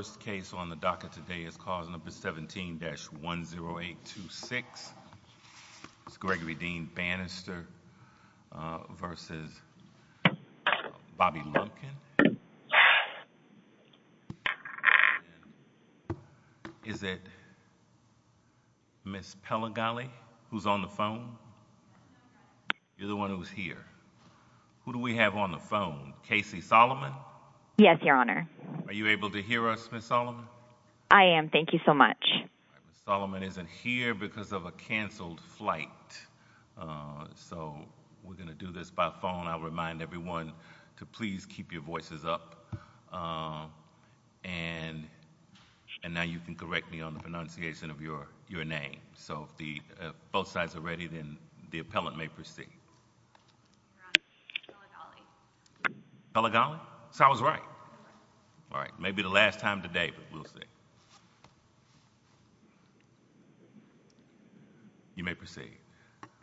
First case on the docket today is cause number 17-10826, Gregory Dean Bannister v. Bobby Lumpkin. Is it Ms. Pellegale who's on the phone? You're the one who's here. Who do we have on the phone? Casey Solomon? Yes, Your Honor. Are you able to hear us, Ms. Solomon? I am. Thank you so much. Ms. Solomon isn't here because of a canceled flight. So we're going to do this by phone. I'll remind everyone to please keep your voices up. And now you can correct me on the pronunciation of your name. So if both sides are ready, then the appellant may proceed. Pellegale? Pellegale? Mr. Solomon? Solomon's right. All right. May be the last time today, but we'll see. You may proceed.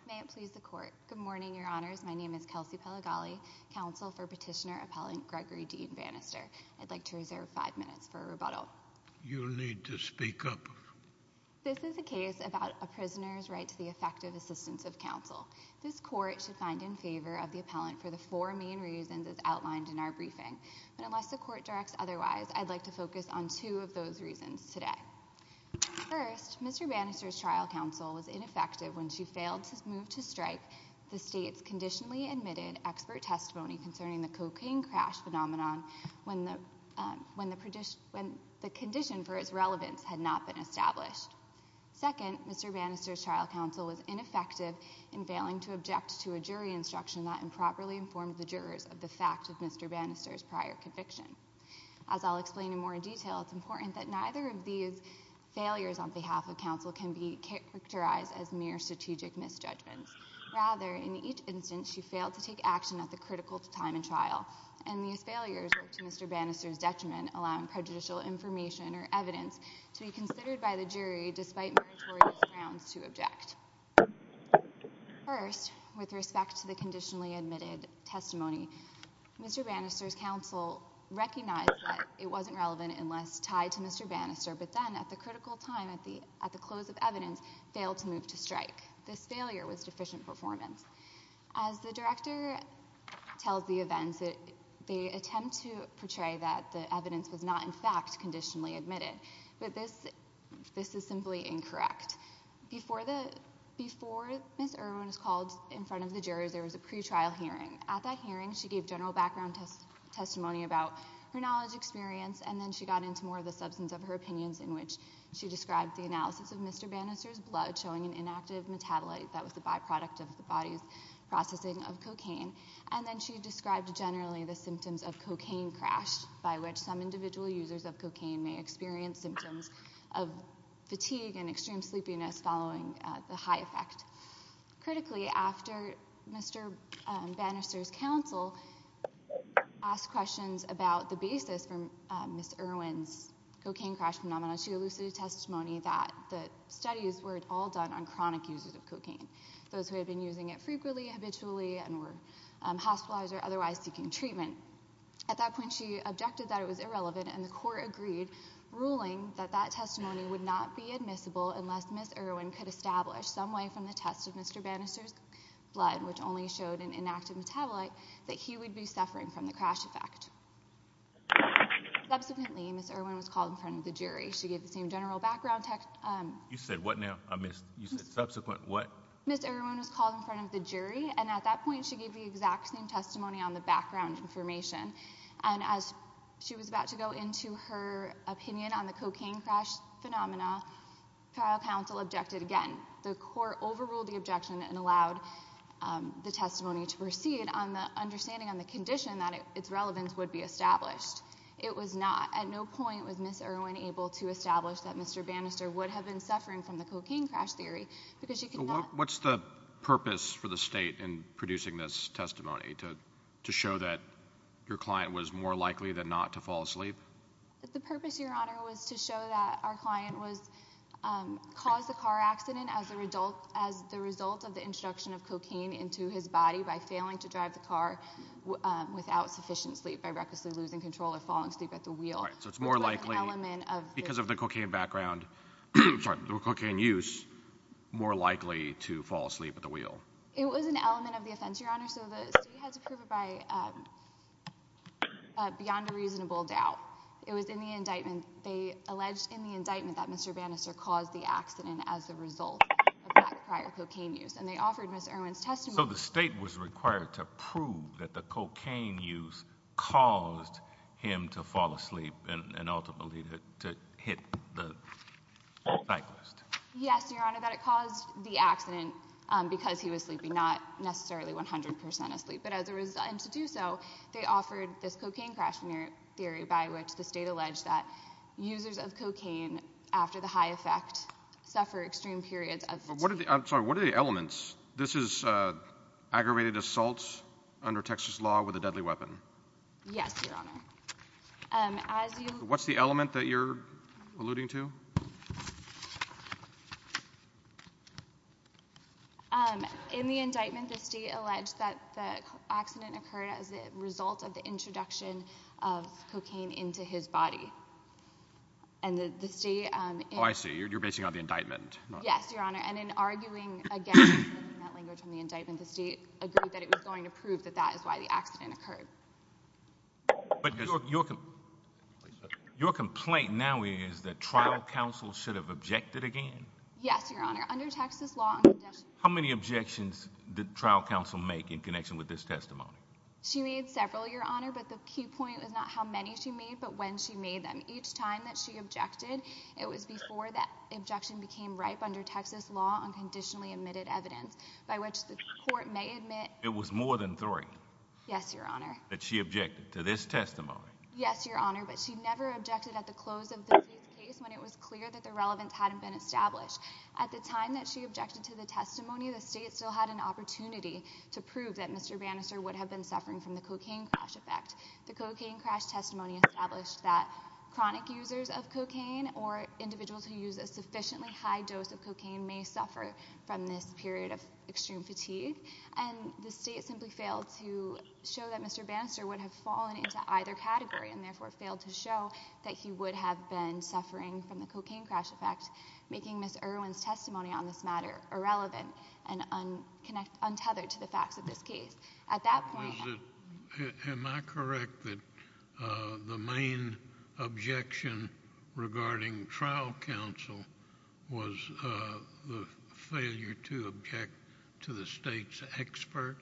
May it please the court. Good morning, Your Honors, my name is Kelsey Pellegale. Counsel for Petitioner Appellant Gregory Dean Bannister. I'd like to reserve five minutes for a rebuttal. You need to speak up. This is a case about a prisoner's right to the effective assistance of counsel. This court should find in favor of the appellant for the four main reasons as outlined in our briefing. But unless the court directs otherwise, I'd like to focus on two of those reasons today. First, Mr. Bannister's trial counsel was ineffective when she failed to move to strike the state's conditionally admitted expert testimony concerning the cocaine crash phenomenon when the condition for its relevance had not been established. Second, Mr. Bannister's trial counsel was ineffective in failing to object to a jury instruction that improperly informed the jurors of the fact of Mr. Bannister's prior conviction. As I'll explain in more detail, it's important that neither of these failures on behalf of counsel can be characterized as mere strategic misjudgments. Rather, in each instance, she failed to take action at the critical time in trial, and these failures were to Mr. Bannister's detriment, allowing prejudicial information or evidence to be considered by the jury despite meritorious grounds to object. First, with respect to the conditionally admitted testimony, Mr. Bannister's counsel recognized that it wasn't relevant unless tied to Mr. Bannister, but then at the critical time at the close of evidence, failed to move to strike. This failure was deficient performance. As the director tells the events, they attempt to portray that the evidence was not in fact conditionally admitted, but this is simply incorrect. Before Ms. Irwin was called in front of the jurors, there was a pretrial hearing. At that hearing, she gave general background testimony about her knowledge, experience, and then she got into more of the substance of her opinions in which she described the analysis of Mr. Bannister's blood showing an inactive metabolite that was a byproduct of the body's processing of cocaine, and then she described generally the symptoms of cocaine crash by which some individual users of cocaine may experience symptoms of fatigue and extreme sleepiness following the high effect. Critically, after Mr. Bannister's counsel asked questions about the basis for Ms. Irwin's cocaine crash phenomenon, she elucidated testimony that the studies were all done on chronic users of cocaine, those who had been using it frequently, habitually, and were hospitalized or otherwise seeking treatment. At that point, she objected that it was irrelevant, and the court agreed, ruling that that testimony would not be admissible unless Ms. Irwin could establish some way from the test of Mr. Bannister's blood, which only showed an inactive metabolite, that he would be suffering from the crash effect. Subsequently, Ms. Irwin was called in front of the jury. She gave the same general background... You said what now? I missed. You said subsequent what? Ms. Irwin was called in front of the jury, and at that point, she gave the exact same testimony on the background information, and as she was about to go into her opinion on the cocaine crash phenomenon, trial counsel objected again. The court overruled the objection and allowed the testimony to proceed on the understanding on the condition that its relevance would be established. It was not. At no point was Ms. Irwin able to establish that Mr. Bannister would have been suffering from the cocaine crash theory because she could not... What's the purpose for the state in producing this testimony, to show that your client was more likely than not to fall asleep? The purpose, Your Honor, was to show that our client caused the car accident as the result of the introduction of cocaine into his body by failing to drive the car without sufficient sleep, by recklessly losing control or falling asleep at the wheel. Right. So it's more likely, because of the cocaine background, sorry, the cocaine use, more likely to fall asleep at the wheel. It was an element of the offense, Your Honor, so the state has to prove it by beyond a reasonable doubt. It was in the indictment, they alleged in the indictment that Mr. Bannister caused the accident as a result of that prior cocaine use, and they offered Ms. Irwin's testimony... So the state was required to prove that the cocaine use caused him to fall asleep and ultimately to hit the cyclist. Yes, Your Honor, that it caused the accident because he was sleeping, not necessarily 100% asleep. But as a result, and to do so, they offered this cocaine crash theory by which the state alleged that users of cocaine, after the high effect, suffer extreme periods of... I'm sorry, what are the elements? This is aggravated assault under Texas law with a deadly weapon. Yes, Your Honor. As you... What's the element that you're alluding to? In the indictment, the state alleged that the accident occurred as a result of the introduction of cocaine into his body. And the state... Oh, I see. You're basing it on the indictment. Yes, Your Honor. And in arguing, again, in that language on the indictment, the state agreed that it was going to prove that that is why the accident occurred. But your complaint now is that trial counsel should have objected again? Yes, Your Honor. Under Texas law... How many objections did trial counsel make in connection with this testimony? She made several, Your Honor, but the key point is not how many she made, but when she made them. Each time that she objected, it was before that objection became ripe under Texas law on conditionally admitted evidence by which the court may admit... It was more than three. Yes, Your Honor. Yes, Your Honor. That she objected to this testimony. Yes, Your Honor, but she never objected at the close of the case when it was clear that the relevance hadn't been established. At the time that she objected to the testimony, the state still had an opportunity to prove that Mr. Bannister would have been suffering from the cocaine crash effect. The cocaine crash testimony established that chronic users of cocaine or individuals who use a sufficiently high dose of cocaine may suffer from this period of extreme fatigue. The state simply failed to show that Mr. Bannister would have fallen into either category and therefore failed to show that he would have been suffering from the cocaine crash effect, making Ms. Irwin's testimony on this matter irrelevant and untethered to the facts of this case. At that point... Was it... Am I correct that the main objection regarding trial counsel was the failure to object to the state's expert?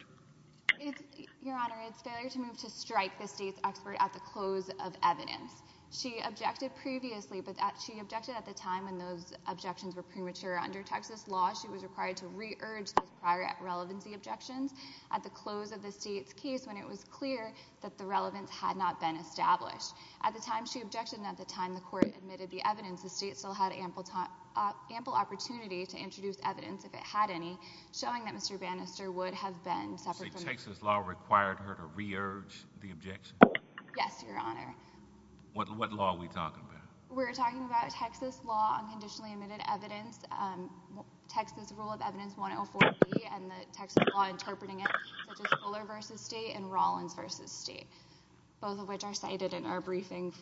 It's... Your Honor, it's failure to move to strike the state's expert at the close of evidence. She objected previously, but she objected at the time when those objections were premature. Under Texas law, she was required to re-urge those prior relevancy objections at the close of the state's case when it was clear that the relevance had not been established. At the time she objected and at the time the court admitted the evidence, the state still had ample opportunity to introduce evidence, if it had any, showing that Mr. Bannister would have been suffering from... So Texas law required her to re-urge the objection? Yes, Your Honor. What law are we talking about? We're talking about Texas law on conditionally admitted evidence, Texas rule of evidence 104B and the Texas law interpreting it, such as Fuller v. State and Rollins v. State, both of which are cited in our briefing.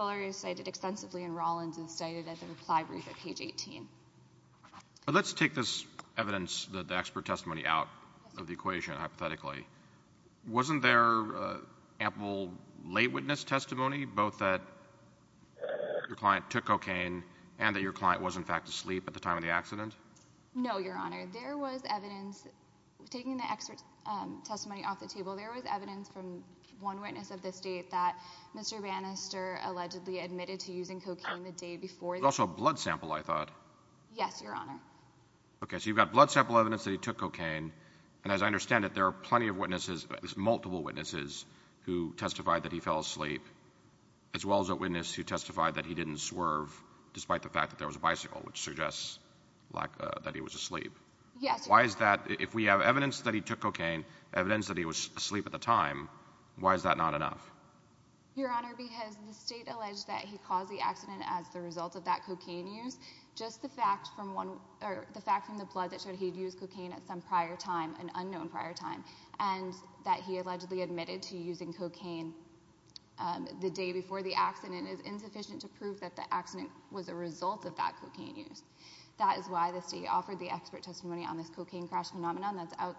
I'm going to take this evidence that the expert testimony out of the equation, hypothetically. Wasn't there ample late witness testimony, both that your client took cocaine and that your client was, in fact, asleep at the time of the accident? No, Your Honor. There was evidence... Taking the expert's testimony off the table, there was evidence from one witness of the state that Mr. Bannister allegedly admitted to using cocaine the day before... There was also a blood sample, I thought. Yes, Your Honor. Okay, so you've got blood sample evidence that he took cocaine, and as I understand it, there are plenty of witnesses, at least multiple witnesses, who testified that he fell asleep, as well as a witness who testified that he didn't swerve, despite the fact that there was a bicycle, which suggests that he was asleep. Yes, Your Honor. Why is that? If we have evidence that he took cocaine, evidence that he was asleep at the time, why is that not enough? Your Honor, because the state alleged that he caused the accident as the result of that cocaine use. Just the fact from the blood that showed he'd used cocaine at some prior time, an unknown prior time, and that he allegedly admitted to using cocaine the day before the accident is insufficient to prove that the accident was a result of that cocaine use. That is why the state offered the expert testimony on this cocaine crash phenomenon that's out...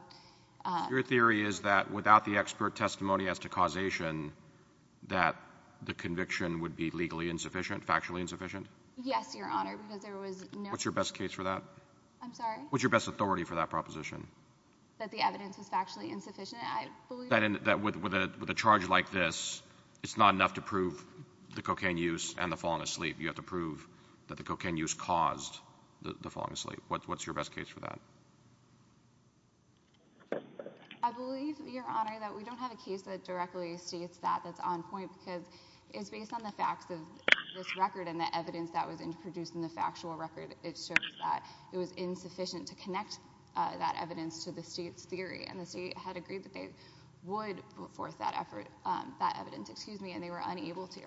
Your theory is that without the expert testimony as to causation, that the conviction would be legally insufficient, factually insufficient? Yes, Your Honor, because there was no... What's your best case for that? I'm sorry? What's your best authority for that proposition? That the evidence was factually insufficient, I believe... That with a charge like this, it's not enough to prove the cocaine use and the falling asleep. You have to prove that the cocaine use caused the falling asleep. What's your best case for that? I believe, Your Honor, that we don't have a case that directly states that that's on point because it's based on the facts of this record and the evidence that was produced in the factual record. It shows that it was insufficient to connect that evidence to the state's theory, and the state had agreed that they would put forth that evidence, and they were unable to.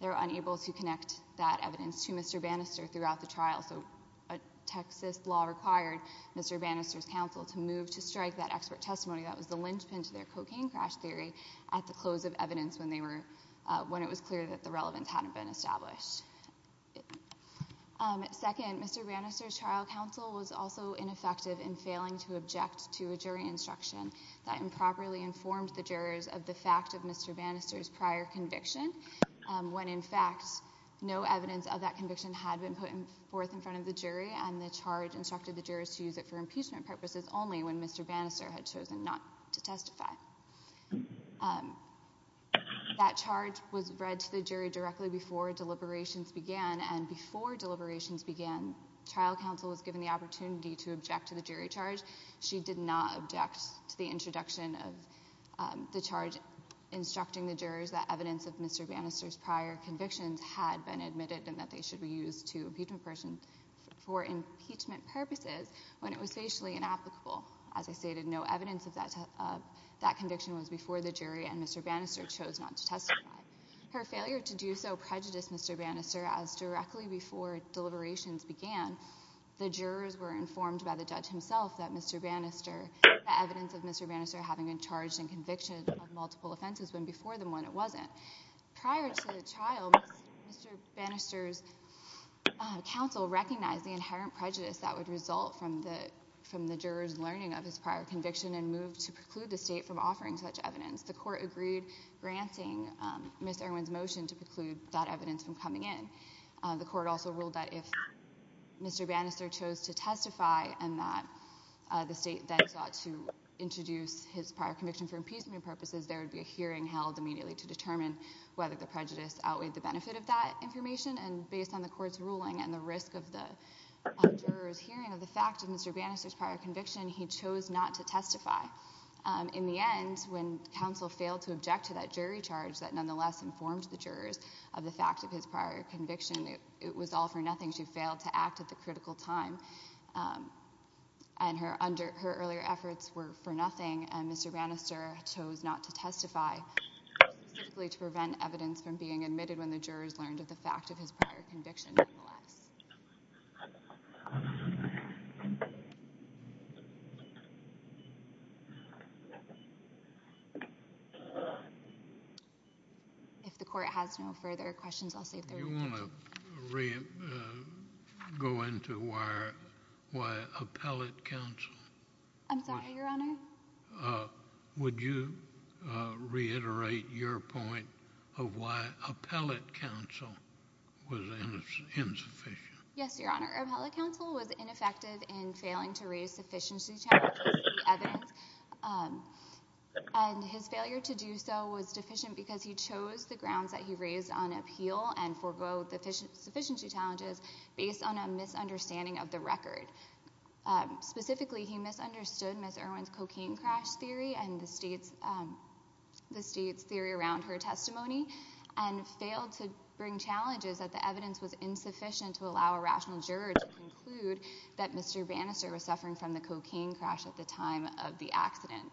They were unable to connect that evidence to Mr. Bannister throughout the trial, so a Texas law required Mr. Bannister's counsel to move to strike that expert testimony that was the linchpin to their cocaine crash theory at the close of evidence when it was clear that the relevance hadn't been established. Second, Mr. Bannister's trial counsel was also ineffective in failing to object to a jury instruction that improperly informed the jurors of the fact of Mr. Bannister's prior conviction, when, in fact, no evidence of that conviction had been put forth in front of the jury, and the charge instructed the jurors to use it for impeachment purposes only when Mr. Bannister had chosen not to testify. That charge was read to the jury directly before deliberations began, and before deliberations began, trial counsel was given the opportunity to object to the jury charge. She did not object to the introduction of the charge instructing the jurors that evidence of Mr. Bannister's prior convictions had been admitted and that they should be used to impeachment purposes when it was facially inapplicable. As I stated, no evidence of that conviction was before the jury, and Mr. Bannister chose not to testify. Her failure to do so prejudiced Mr. Bannister, as directly before deliberations began, the jurors were informed by the judge himself that Mr. Bannister, the evidence of Mr. Bannister having been charged in conviction of multiple offenses went before them when it wasn't. But prior to the trial, Mr. Bannister's counsel recognized the inherent prejudice that would result from the jurors' learning of his prior conviction and moved to preclude the state from offering such evidence. The court agreed, granting Ms. Irwin's motion to preclude that evidence from coming in. The court also ruled that if Mr. Bannister chose to testify and that the state then sought to introduce his prior conviction for impeachment purposes, there would be a hearing held immediately to determine whether the prejudice outweighed the benefit of that information, and based on the court's ruling and the risk of the jurors' hearing of the fact of Mr. Bannister's prior conviction, he chose not to testify. In the end, when counsel failed to object to that jury charge that nonetheless informed the jurors of the fact of his prior conviction, it was all for nothing. She failed to act at the critical time, and her earlier efforts were for nothing, and specifically to prevent evidence from being admitted when the jurors learned of the fact of his prior conviction, nonetheless. If the court has no further questions, I'll save the room for counsel. Do you want to go into why appellate counsel? I'm sorry, Your Honor? Would you reiterate your point of why appellate counsel was insufficient? Yes, Your Honor. Appellate counsel was ineffective in failing to raise sufficiency challenges and evidence, and his failure to do so was deficient because he chose the grounds that he raised on appeal and for both sufficiency challenges based on a misunderstanding of the record. Specifically, he misunderstood Ms. Irwin's cocaine crash theory and the state's theory around her testimony, and failed to bring challenges that the evidence was insufficient to allow a rational juror to conclude that Mr. Bannister was suffering from the cocaine crash at the time of the accident.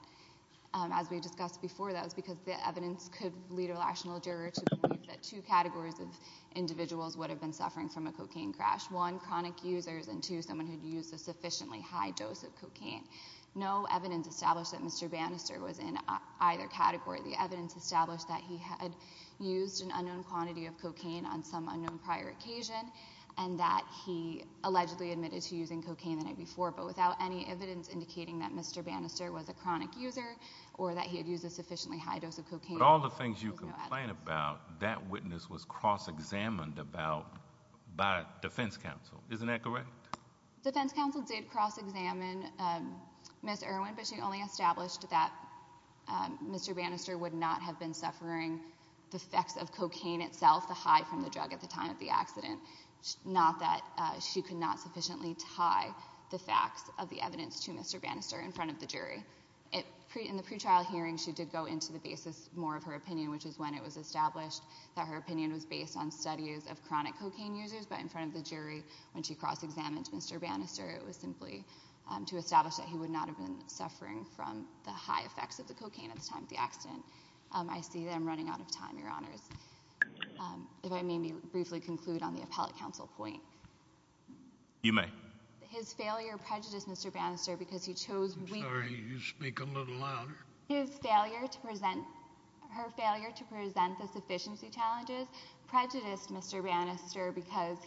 As we discussed before, that was because the evidence could lead a rational juror to believe that two categories of individuals would have been suffering from a cocaine crash. One, chronic users, and two, someone who'd used a sufficiently high dose of cocaine. No evidence established that Mr. Bannister was in either category. The evidence established that he had used an unknown quantity of cocaine on some unknown prior occasion, and that he allegedly admitted to using cocaine the night before, but without any evidence indicating that Mr. Bannister was a chronic user or that he had used a sufficiently high dose of cocaine... But all the things you complain about, that witness was cross-examined by defense counsel. Isn't that correct? Defense counsel did cross-examine Ms. Irwin, but she only established that Mr. Bannister would not have been suffering the effects of cocaine itself, the high from the drug at the time of the accident, not that she could not sufficiently tie the facts of the evidence to Mr. Bannister in front of the jury. In the pretrial hearing, she did go into the basis more of her opinion, which is when it was established that her opinion was based on studies of chronic cocaine users, but in front of the jury, when she cross-examined Mr. Bannister, it was simply to establish that he would not have been suffering from the high effects of the cocaine at the time of the accident. I see that I'm running out of time, Your Honors. If I may briefly conclude on the appellate counsel point... You may. His failure to present the sufficiency challenges prejudiced Mr. Bannister because he chose weakly... I'm sorry, you speak a little louder. His failure to present... her failure to present the sufficiency challenges prejudiced Mr. Bannister because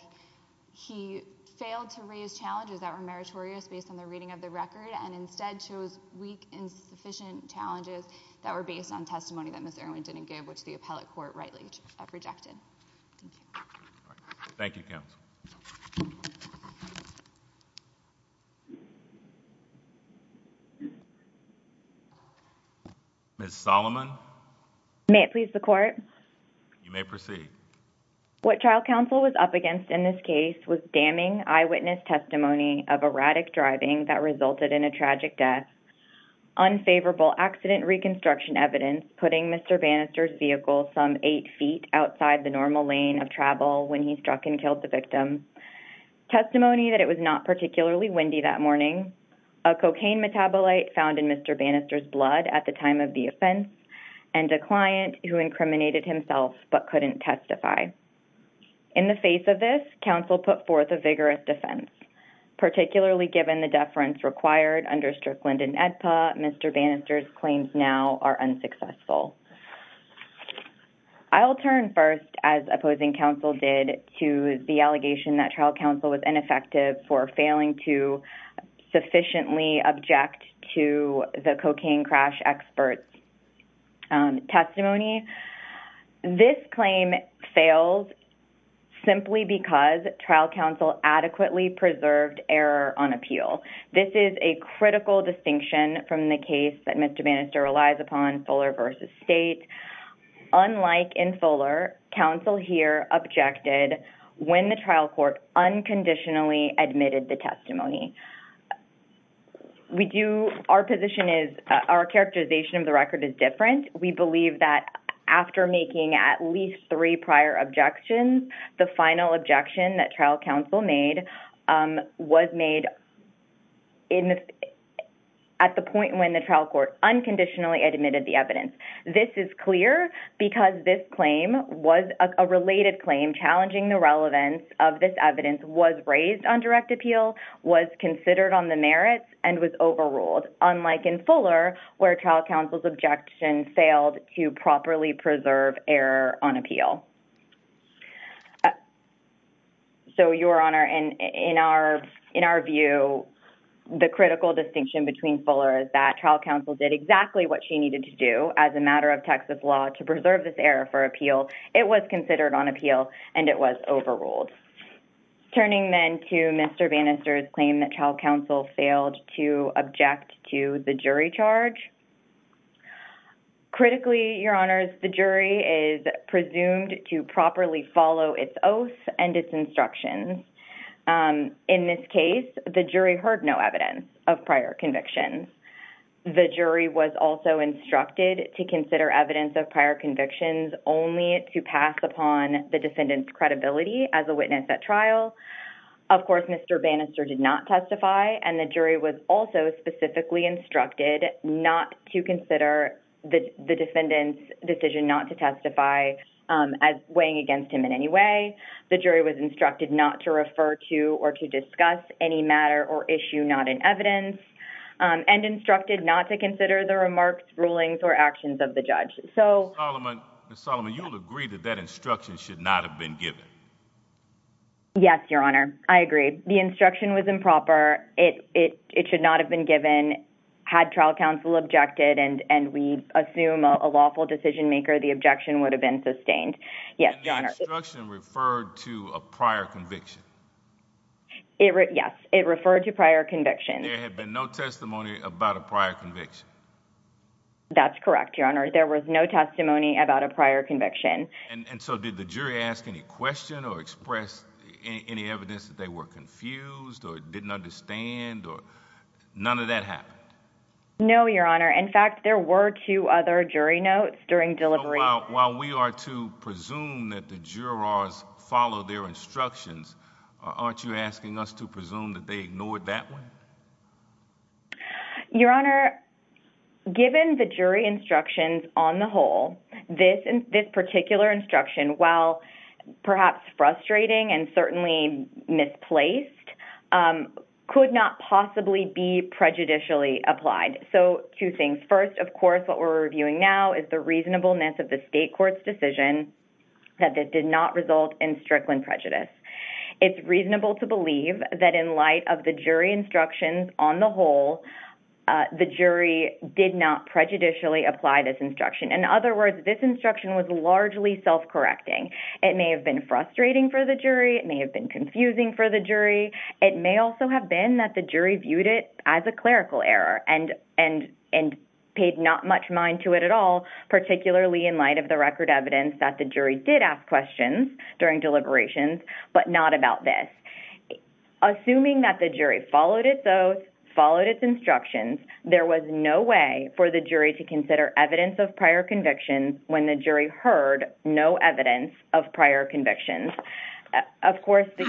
he failed to raise challenges that were meritorious based on the reading of the record, and instead chose weak, insufficient challenges that were based on testimony that Ms. Irwin didn't give, which the appellate court rightly rejected. Thank you. Thank you, counsel. Ms. Solomon? May it please the Court? You may proceed. What trial counsel was up against in this case was damning eyewitness testimony of erratic driving that resulted in a tragic death, unfavorable accident reconstruction evidence putting Mr. Bannister's vehicle some eight feet outside the normal lane of travel when he struck and killed the victim, testimony that it was not particularly windy that morning, a cocaine metabolite found in Mr. Bannister's blood at the time of the offense, and a client who In the face of this, counsel put forth a vigorous defense. Particularly given the deference required under Strickland and AEDPA, Mr. Bannister's claims now are unsuccessful. I'll turn first, as opposing counsel did, to the allegation that trial counsel was ineffective for failing to sufficiently object to the cocaine crash expert's testimony. This claim fails simply because trial counsel adequately preserved error on appeal. This is a critical distinction from the case that Mr. Bannister relies upon, Fuller v. State. Unlike in Fuller, counsel here objected when the trial court unconditionally admitted the testimony. Our characterization of the record is different. We believe that after making at least three prior objections, the final objection that trial counsel made was made at the point when the trial court unconditionally admitted the evidence. This is clear because this claim was a related claim challenging the relevance of this evidence was raised on direct appeal, was considered on the merits, and was overruled. Unlike in Fuller, where trial counsel's objection failed to properly preserve error on appeal. So, Your Honor, in our view, the critical distinction between Fuller is that trial counsel did exactly what she needed to do as a matter of Texas law to preserve this error for appeal. It was considered on appeal, and it was overruled. Turning then to Mr. Bannister's claim that trial counsel failed to object to the jury charge. Critically, Your Honors, the jury is presumed to properly follow its oath and its instructions. In this case, the jury heard no evidence of prior convictions. The jury was also instructed to consider evidence of prior convictions only to pass upon the witness at trial. Of course, Mr. Bannister did not testify, and the jury was also specifically instructed not to consider the defendant's decision not to testify as weighing against him in any way. The jury was instructed not to refer to or to discuss any matter or issue not in evidence, and instructed not to consider the remarks, rulings, or actions of the judge. Ms. Solomon, you'll agree that that instruction should not have been given? Yes, Your Honor, I agree. The instruction was improper. It should not have been given. Had trial counsel objected and we assume a lawful decision maker, the objection would have been sustained. Yes, Your Honor. The instruction referred to a prior conviction. Yes, it referred to prior convictions. There had been no testimony about a prior conviction. That's correct, Your Honor. There was no testimony about a prior conviction. And so did the jury ask any question or express any evidence that they were confused or didn't understand? None of that happened? No, Your Honor. In fact, there were two other jury notes during delivery. While we are to presume that the jurors followed their instructions, aren't you asking us to presume that they ignored that one? Your Honor, given the jury instructions on the whole, this particular instruction, while perhaps frustrating and certainly misplaced, could not possibly be prejudicially applied. So, two things. First, of course, what we're reviewing now is the reasonableness of the state court's decision that this did not result in Strickland prejudice. It's reasonable to believe that in light of the jury instructions on the whole, the jury did not prejudicially apply this instruction. In other words, this instruction was largely self-correcting. It may have been frustrating for the jury. It may have been confusing for the jury. It may also have been that the jury viewed it as a clerical error and paid not much mind to it at all, particularly in light of the record evidence that the jury did ask questions during deliberations, but not about this. Assuming that the jury followed its oath, followed its instructions, there was no way for the jury to consider evidence of prior convictions when the jury heard no evidence of prior convictions.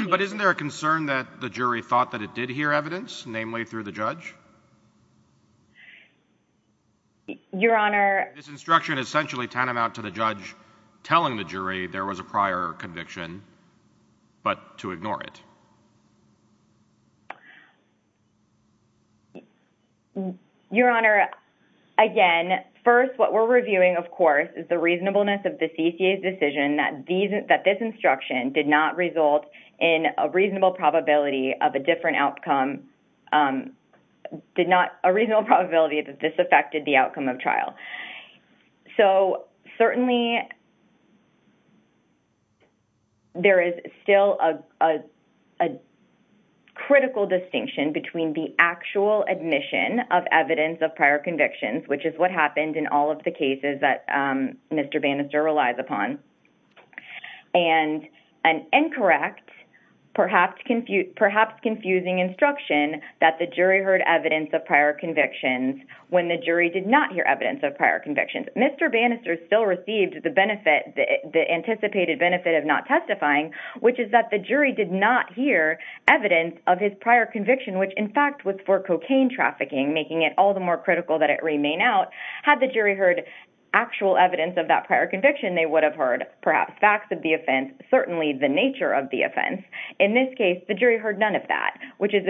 But isn't there a concern that the jury thought that it did hear evidence, namely through the judge? Your Honor... This instruction is essentially tantamount to the judge telling the jury there was a prior conviction, but to ignore it. Your Honor, again, first, what we're reviewing, of course, is the reasonableness of the CCA's decision that this instruction did not result in a reasonable probability of a different outcome. Did not... A reasonable probability that this affected the outcome of trial. So, certainly, there is still a critical distinction between the actual admission of evidence of prior convictions, which is what happened in all of the cases that Mr. Bannister relies upon, and an incorrect, perhaps confusing instruction that the jury heard evidence of prior convictions when the jury did not hear evidence of prior convictions. Mr. Bannister still received the anticipated benefit of not testifying, which is that the jury did not hear evidence of his prior conviction, which, in fact, was for cocaine trafficking, making it all the more critical that it remain out. Had the jury heard actual evidence of that prior conviction, they would have heard, perhaps, facts of the offense, certainly the nature of the offense. In this case, the jury heard none of that, which is,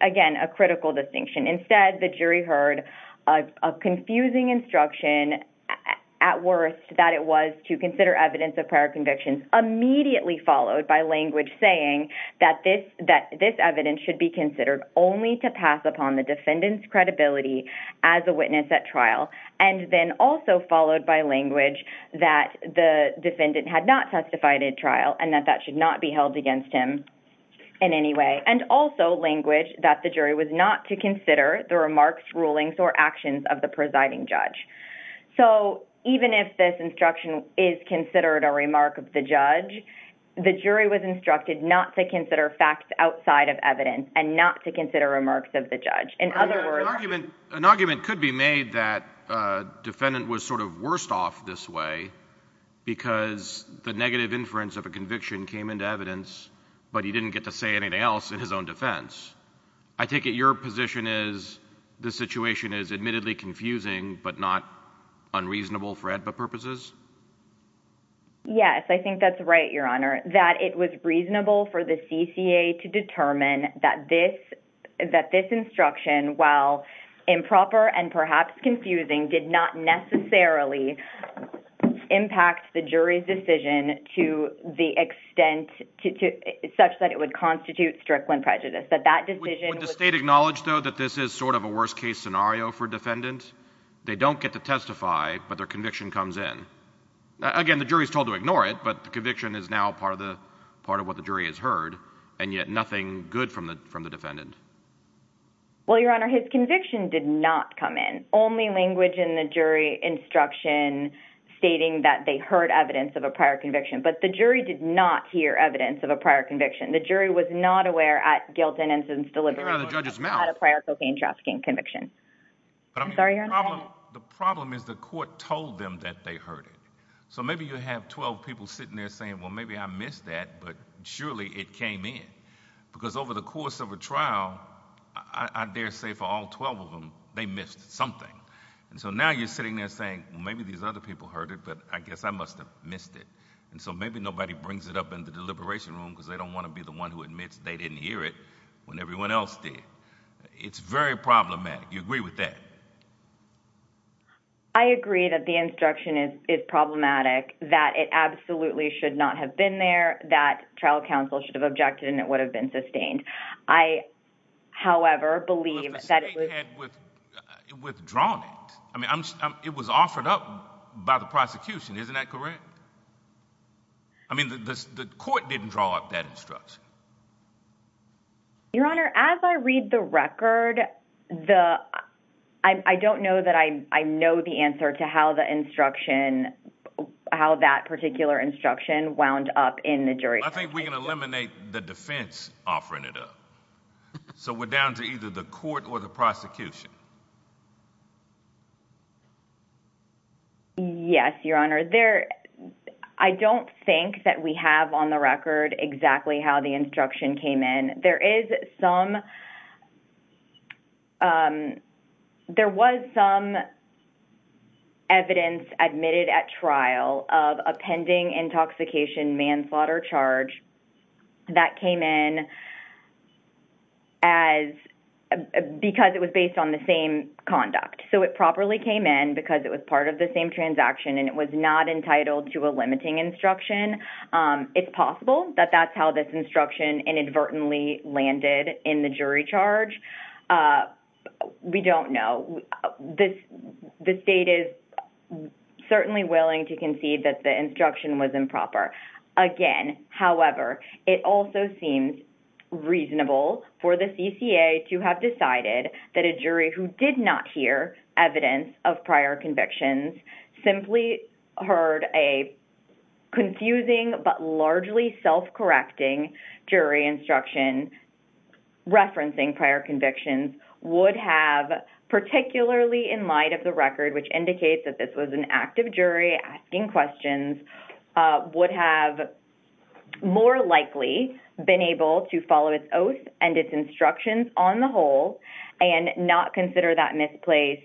again, a critical distinction. Instead, the jury heard a confusing instruction, at worst, that it was to consider evidence of prior convictions, immediately followed by language saying that this evidence should be considered only to pass upon the defendant's credibility as a witness at trial, and then also followed by language that the defendant had not testified at trial and that that should not be held against him in any way, and also language that the jury was not to consider the remarks, rulings, or actions of the presiding judge. So, even if this instruction is considered a remark of the judge, the jury was instructed not to consider facts outside of evidence and not to consider remarks of the judge. An argument could be made that defendant was sort of worse off this way because the negative inference of a conviction came into evidence, but he didn't get to say anything else in his own defense. I take it your position is the situation is admittedly confusing, but not unreasonable for AEDPA purposes? Yes, I think that's right, Your Honor, that it was reasonable for the CCA to determine that this instruction, while improper and perhaps confusing, did not necessarily impact the jury's decision to the extent such that it would constitute strickland prejudice. Would the state acknowledge, though, that this is sort of a worst-case scenario for defendant? They don't get to testify, but their conviction comes in. Again, the jury is told to ignore it, but the conviction is now part of what the jury has heard, and yet nothing good from the defendant. Well, Your Honor, his conviction did not come in. Only language in the jury instruction stating that they heard evidence of a prior conviction. But the jury did not hear evidence of a prior conviction. The jury was not aware at guilt and incident's delivery of a prior cocaine trafficking conviction. The problem is the court told them that they heard it. Maybe you have twelve people sitting there saying, well, maybe I missed that, but surely it came in. Because over the course of a trial, I dare say for all twelve of them, they missed something. And so now you're sitting there saying, well, maybe these other people heard it, but I guess I must have missed it. And so maybe nobody brings it up in the deliberation room because they don't want to be the one who admits they didn't hear it when everyone else did. It's very problematic. You agree with that? I agree that the instruction is problematic, that it absolutely should not have been there, that trial counsel should have objected and it would have been sustained. I, however, believe that it was withdrawn. I mean, it was offered up by the prosecution, isn't that correct? I mean, the court didn't draw up that instruction. Your Honor, as I read the record, the I don't know that I know the answer to how the instruction, how that particular instruction wound up in the jury. I think we can eliminate the defense offering it up. So we're down to either the court or the prosecution. Yes, Your Honor. I don't think that we have on the record exactly how the instruction came in. There was some evidence admitted at trial of a pending intoxication manslaughter charge that came in because it was based on the same conduct. So it properly came in because it was part of the same transaction and it was not entitled to a limiting instruction. It's possible that that's how this instruction inadvertently landed in the jury charge. We don't know. The state is certainly willing to concede that the instruction was improper. Again, however, it also seems reasonable for the CCA to have decided that a jury who did not hear evidence of prior convictions, simply heard a confusing but largely self-correcting jury instruction referencing prior convictions, would have, particularly in light of the record, which indicates that this was an active jury asking questions, would have more likely been able to follow its oath and its instructions on the whole and not consider that misplaced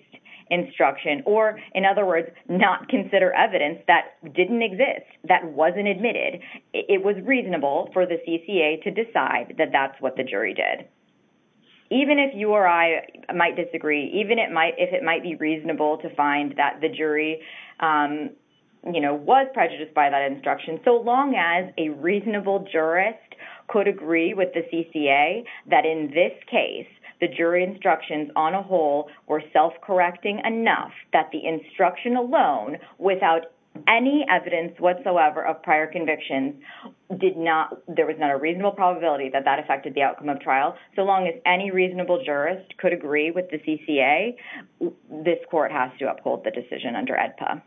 instruction. Or in other words, not consider evidence that didn't exist, that wasn't admitted. It was reasonable for the CCA to decide that that's what the jury did. Even if you or I might disagree, even if it might be reasonable to find that the jury was prejudiced by that instruction, so long as a reasonable jurist could agree with the CCA that in this case, the jury instructions on a whole were self-correcting enough that the instruction alone, without any evidence whatsoever of prior convictions, there was not a reasonable probability that that affected the outcome of trial. So long as any reasonable jurist could agree with the CCA, this court has to uphold the decision under AEDPA.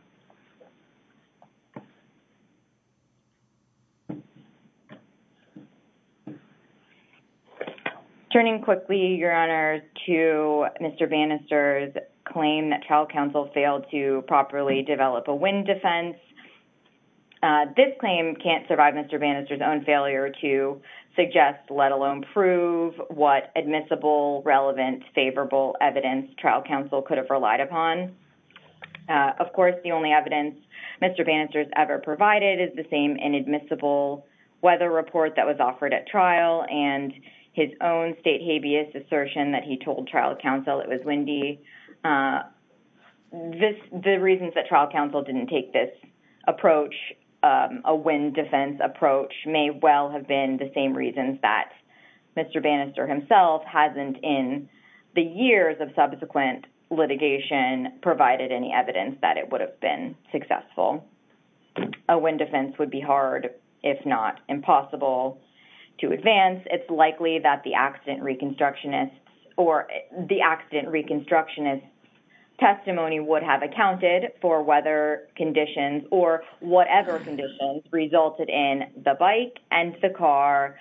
Turning quickly, Your Honor, to Mr. Bannister's claim that trial counsel failed to properly develop a wind defense. This claim can't survive Mr. Bannister's own failure to suggest, let alone prove, what admissible, relevant, favorable evidence trial counsel could have relied upon. Of course, the only evidence Mr. Bannister's ever provided is the same inadmissible weather report that was offered at trial and his own state habeas assertion that he told trial counsel it was windy. The reasons that trial counsel didn't take this approach, a wind defense approach, may well have been the same reasons that Mr. Bannister himself hasn't, in the years of subsequent litigation, provided any evidence that it would have been successful. A wind defense would be hard, if not impossible, to advance. It's likely that the accident reconstructionist's testimony would have accounted for weather conditions or whatever conditions resulted in the bike and the car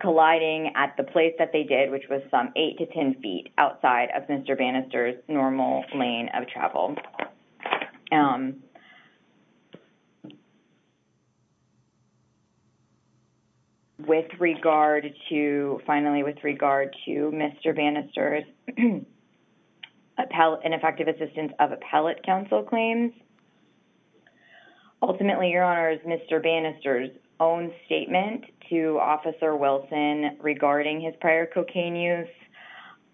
colliding at the place that they did, which was some 8 to 10 feet outside of Mr. Bannister's normal lane of travel. Finally, with regard to Mr. Bannister's ineffective assistance of appellate counsel claims, ultimately, Your Honors, Mr. Bannister's own statement to Officer Wilson regarding his prior cocaine use,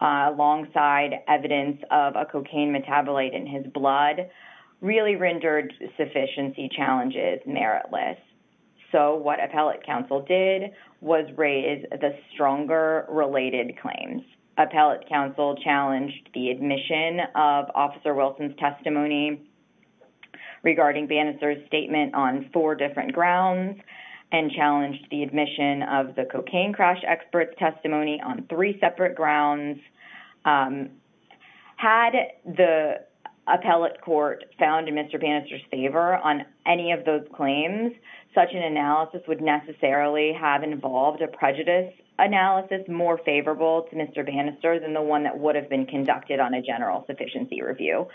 alongside evidence of a cocaine metabolite in his blood, really rendered sufficiency challenges meritless. So, what appellate counsel did was raise the stronger related claims. Appellate counsel challenged the admission of Officer Wilson's testimony regarding Bannister's statement on four different grounds and challenged the admission of the cocaine crash expert's testimony on three separate grounds. Had the appellate court found Mr. Bannister's favor on any of those claims, such an analysis would necessarily have involved a prejudice analysis more favorable to Mr. Bannister than the one that would have been conducted on a general sufficiency review.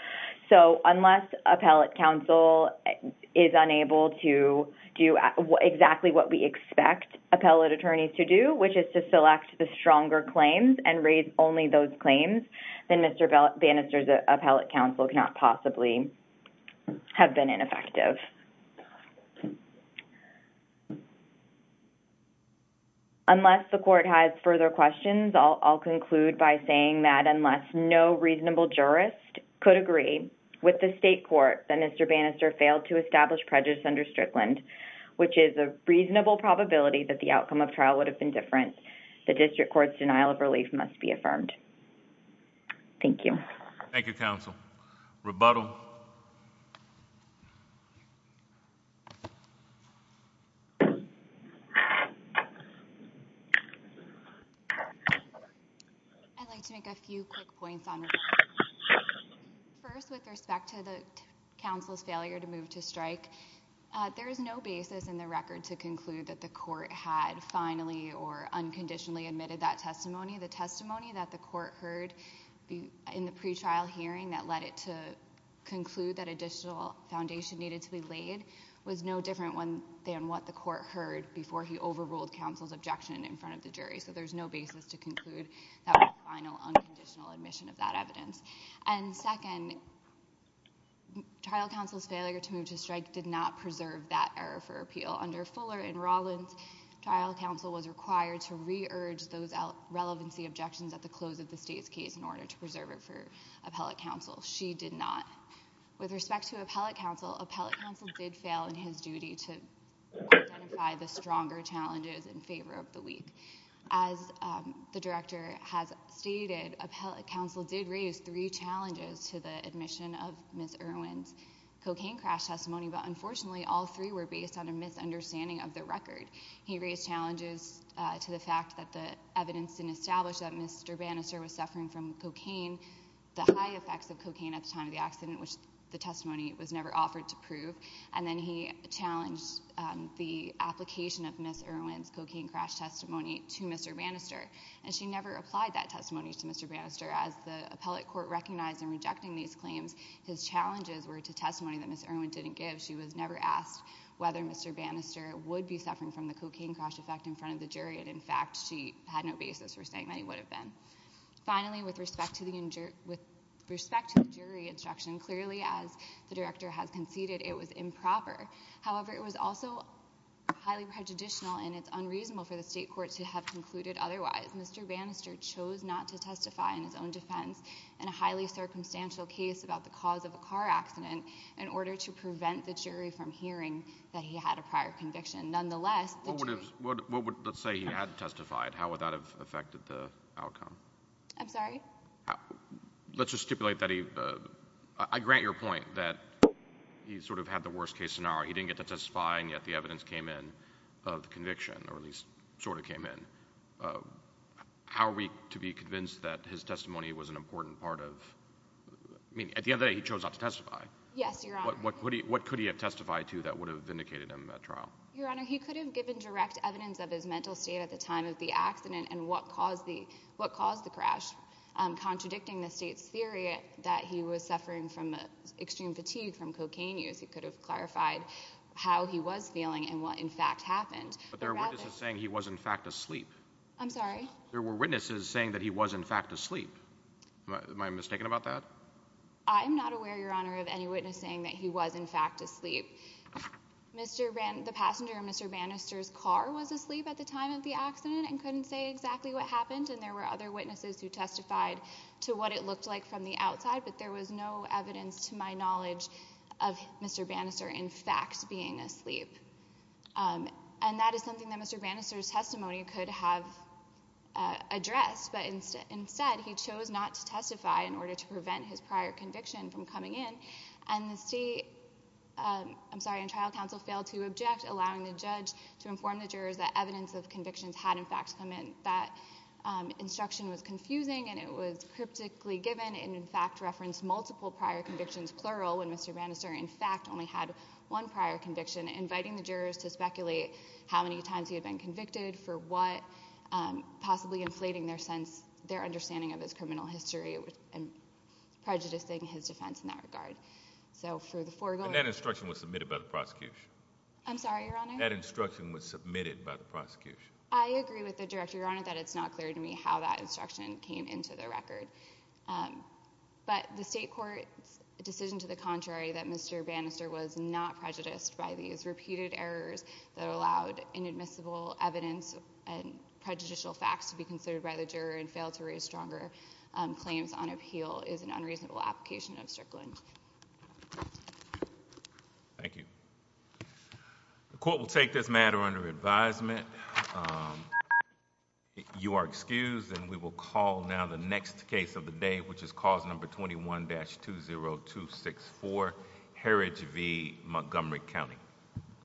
So, unless appellate counsel is unable to do exactly what we expect appellate attorneys to do, which is to select the stronger claims and raise only those claims, then Mr. Bannister's appellate counsel cannot possibly have been ineffective. Unless the court has further questions, I'll conclude by saying that unless no reasonable jurist could agree with the state court that Mr. Bannister failed to establish prejudice under Strickland, which is a reasonable probability that the outcome of trial would have been different, the district court's denial of relief must be affirmed. Thank you. Thank you, counsel. Rebuttal. I'd like to make a few quick points on rebuttal. First, there is no basis in the record to conclude that the court had finally or unconditionally admitted that testimony. The testimony that the court heard in the pre-trial hearing that led it to conclude that additional foundation needed to be laid was no different than what the court heard before he overruled counsel's objection in front of the jury. So, there's no basis to conclude that was a final, unconditional admission of that evidence. And second, trial counsel's failure to move to strike did not preserve that error for appeal. Under Fuller and Rawlins, trial counsel was required to re-urge those relevancy objections at the close of the state's case in order to preserve it for appellate counsel. She did not. With respect to appellate counsel, appellate counsel did fail in his duty to identify the stronger challenges in favor of the weak. As the director has stated, appellate counsel did raise three challenges to the admission of Ms. Irwin's cocaine crash testimony, but unfortunately all three were based on a misunderstanding of the record. He raised challenges to the fact that the evidence didn't establish that Mr. Bannister was suffering from cocaine, the high effects of cocaine at the time of the accident, which the testimony was never offered to prove. And then he challenged the application of Ms. Irwin's cocaine crash testimony to Mr. Bannister. And she never applied that testimony to Mr. Bannister. As the appellate court recognized in rejecting these claims, his challenges were to testimony that Ms. Irwin didn't give. She was never asked whether Mr. Bannister would be suffering from the cocaine crash effect in front of the jury. And in fact, she had no basis for saying that he would have been. Finally, with respect to the jury instruction, clearly as the director has conceded, it was improper. However, it was also highly prejudicial and it's unreasonable for the state court to have concluded otherwise. Mr. Bannister chose not to testify in his own defense in a highly circumstantial case about the cause of a car accident in order to prevent the jury from hearing that he had a prior conviction. Nonetheless, the jury— What would—let's say he had testified. How would that have affected the outcome? I'm sorry? Let's just stipulate that he—I grant your point that he sort of had the worst case scenario. He didn't get to testify and yet the evidence came in of the conviction, or at least sort of came in. How are we to be convinced that his testimony was an important part of—I mean, at the end of the day, he chose not to testify. Yes, Your Honor. What could he have testified to that would have vindicated him at trial? Your Honor, he could have given direct evidence of his mental state at the time of the accident and what caused the crash. Contradicting the state's theory that he was suffering from extreme fatigue from cocaine use, he could have clarified how he was feeling and what, in fact, happened. But there are witnesses saying he was, in fact, asleep. I'm sorry? There were witnesses saying that he was, in fact, asleep. Am I mistaken about that? I'm not aware, Your Honor, of any witness saying that he was, in fact, asleep. Mr. Bann—the passenger in Mr. Bannister's car was asleep at the time of the accident and couldn't say exactly what happened. And there were other witnesses who testified to what it looked like from the outside, but there was no evidence to my knowledge of Mr. Bannister, in fact, being asleep. And that is something that Mr. Bannister's testimony could have addressed. But instead, he chose not to testify in order to prevent his prior conviction from coming in. And the state—I'm sorry, and trial counsel failed to object, allowing the judge to inform the jurors that evidence of convictions had, in fact, come in. That instruction was confusing and it was cryptically given and, in fact, referenced multiple prior convictions, plural, when Mr. Bannister, in fact, only had one prior conviction, inviting the jurors to speculate how many times he had been convicted, for what, possibly inflating their sense—their understanding of his criminal history and prejudicing his defense in that regard. So for the foregoing— And that instruction was submitted by the prosecution? I'm sorry, Your Honor? That instruction was submitted by the prosecution. I agree with the Director, Your Honor, that it's not clear to me how that instruction came into the record. But the state court's decision to the contrary, that Mr. Bannister was not prejudiced by these repeated errors that allowed inadmissible evidence and prejudicial facts to be considered by the juror and failed to raise stronger claims on appeal, is an unreasonable application of Strickland. Thank you. The court will take this matter under advisement. You are excused, and we will call now the next case of the day, which is cause number 21-20264, Heritage v. Montgomery County.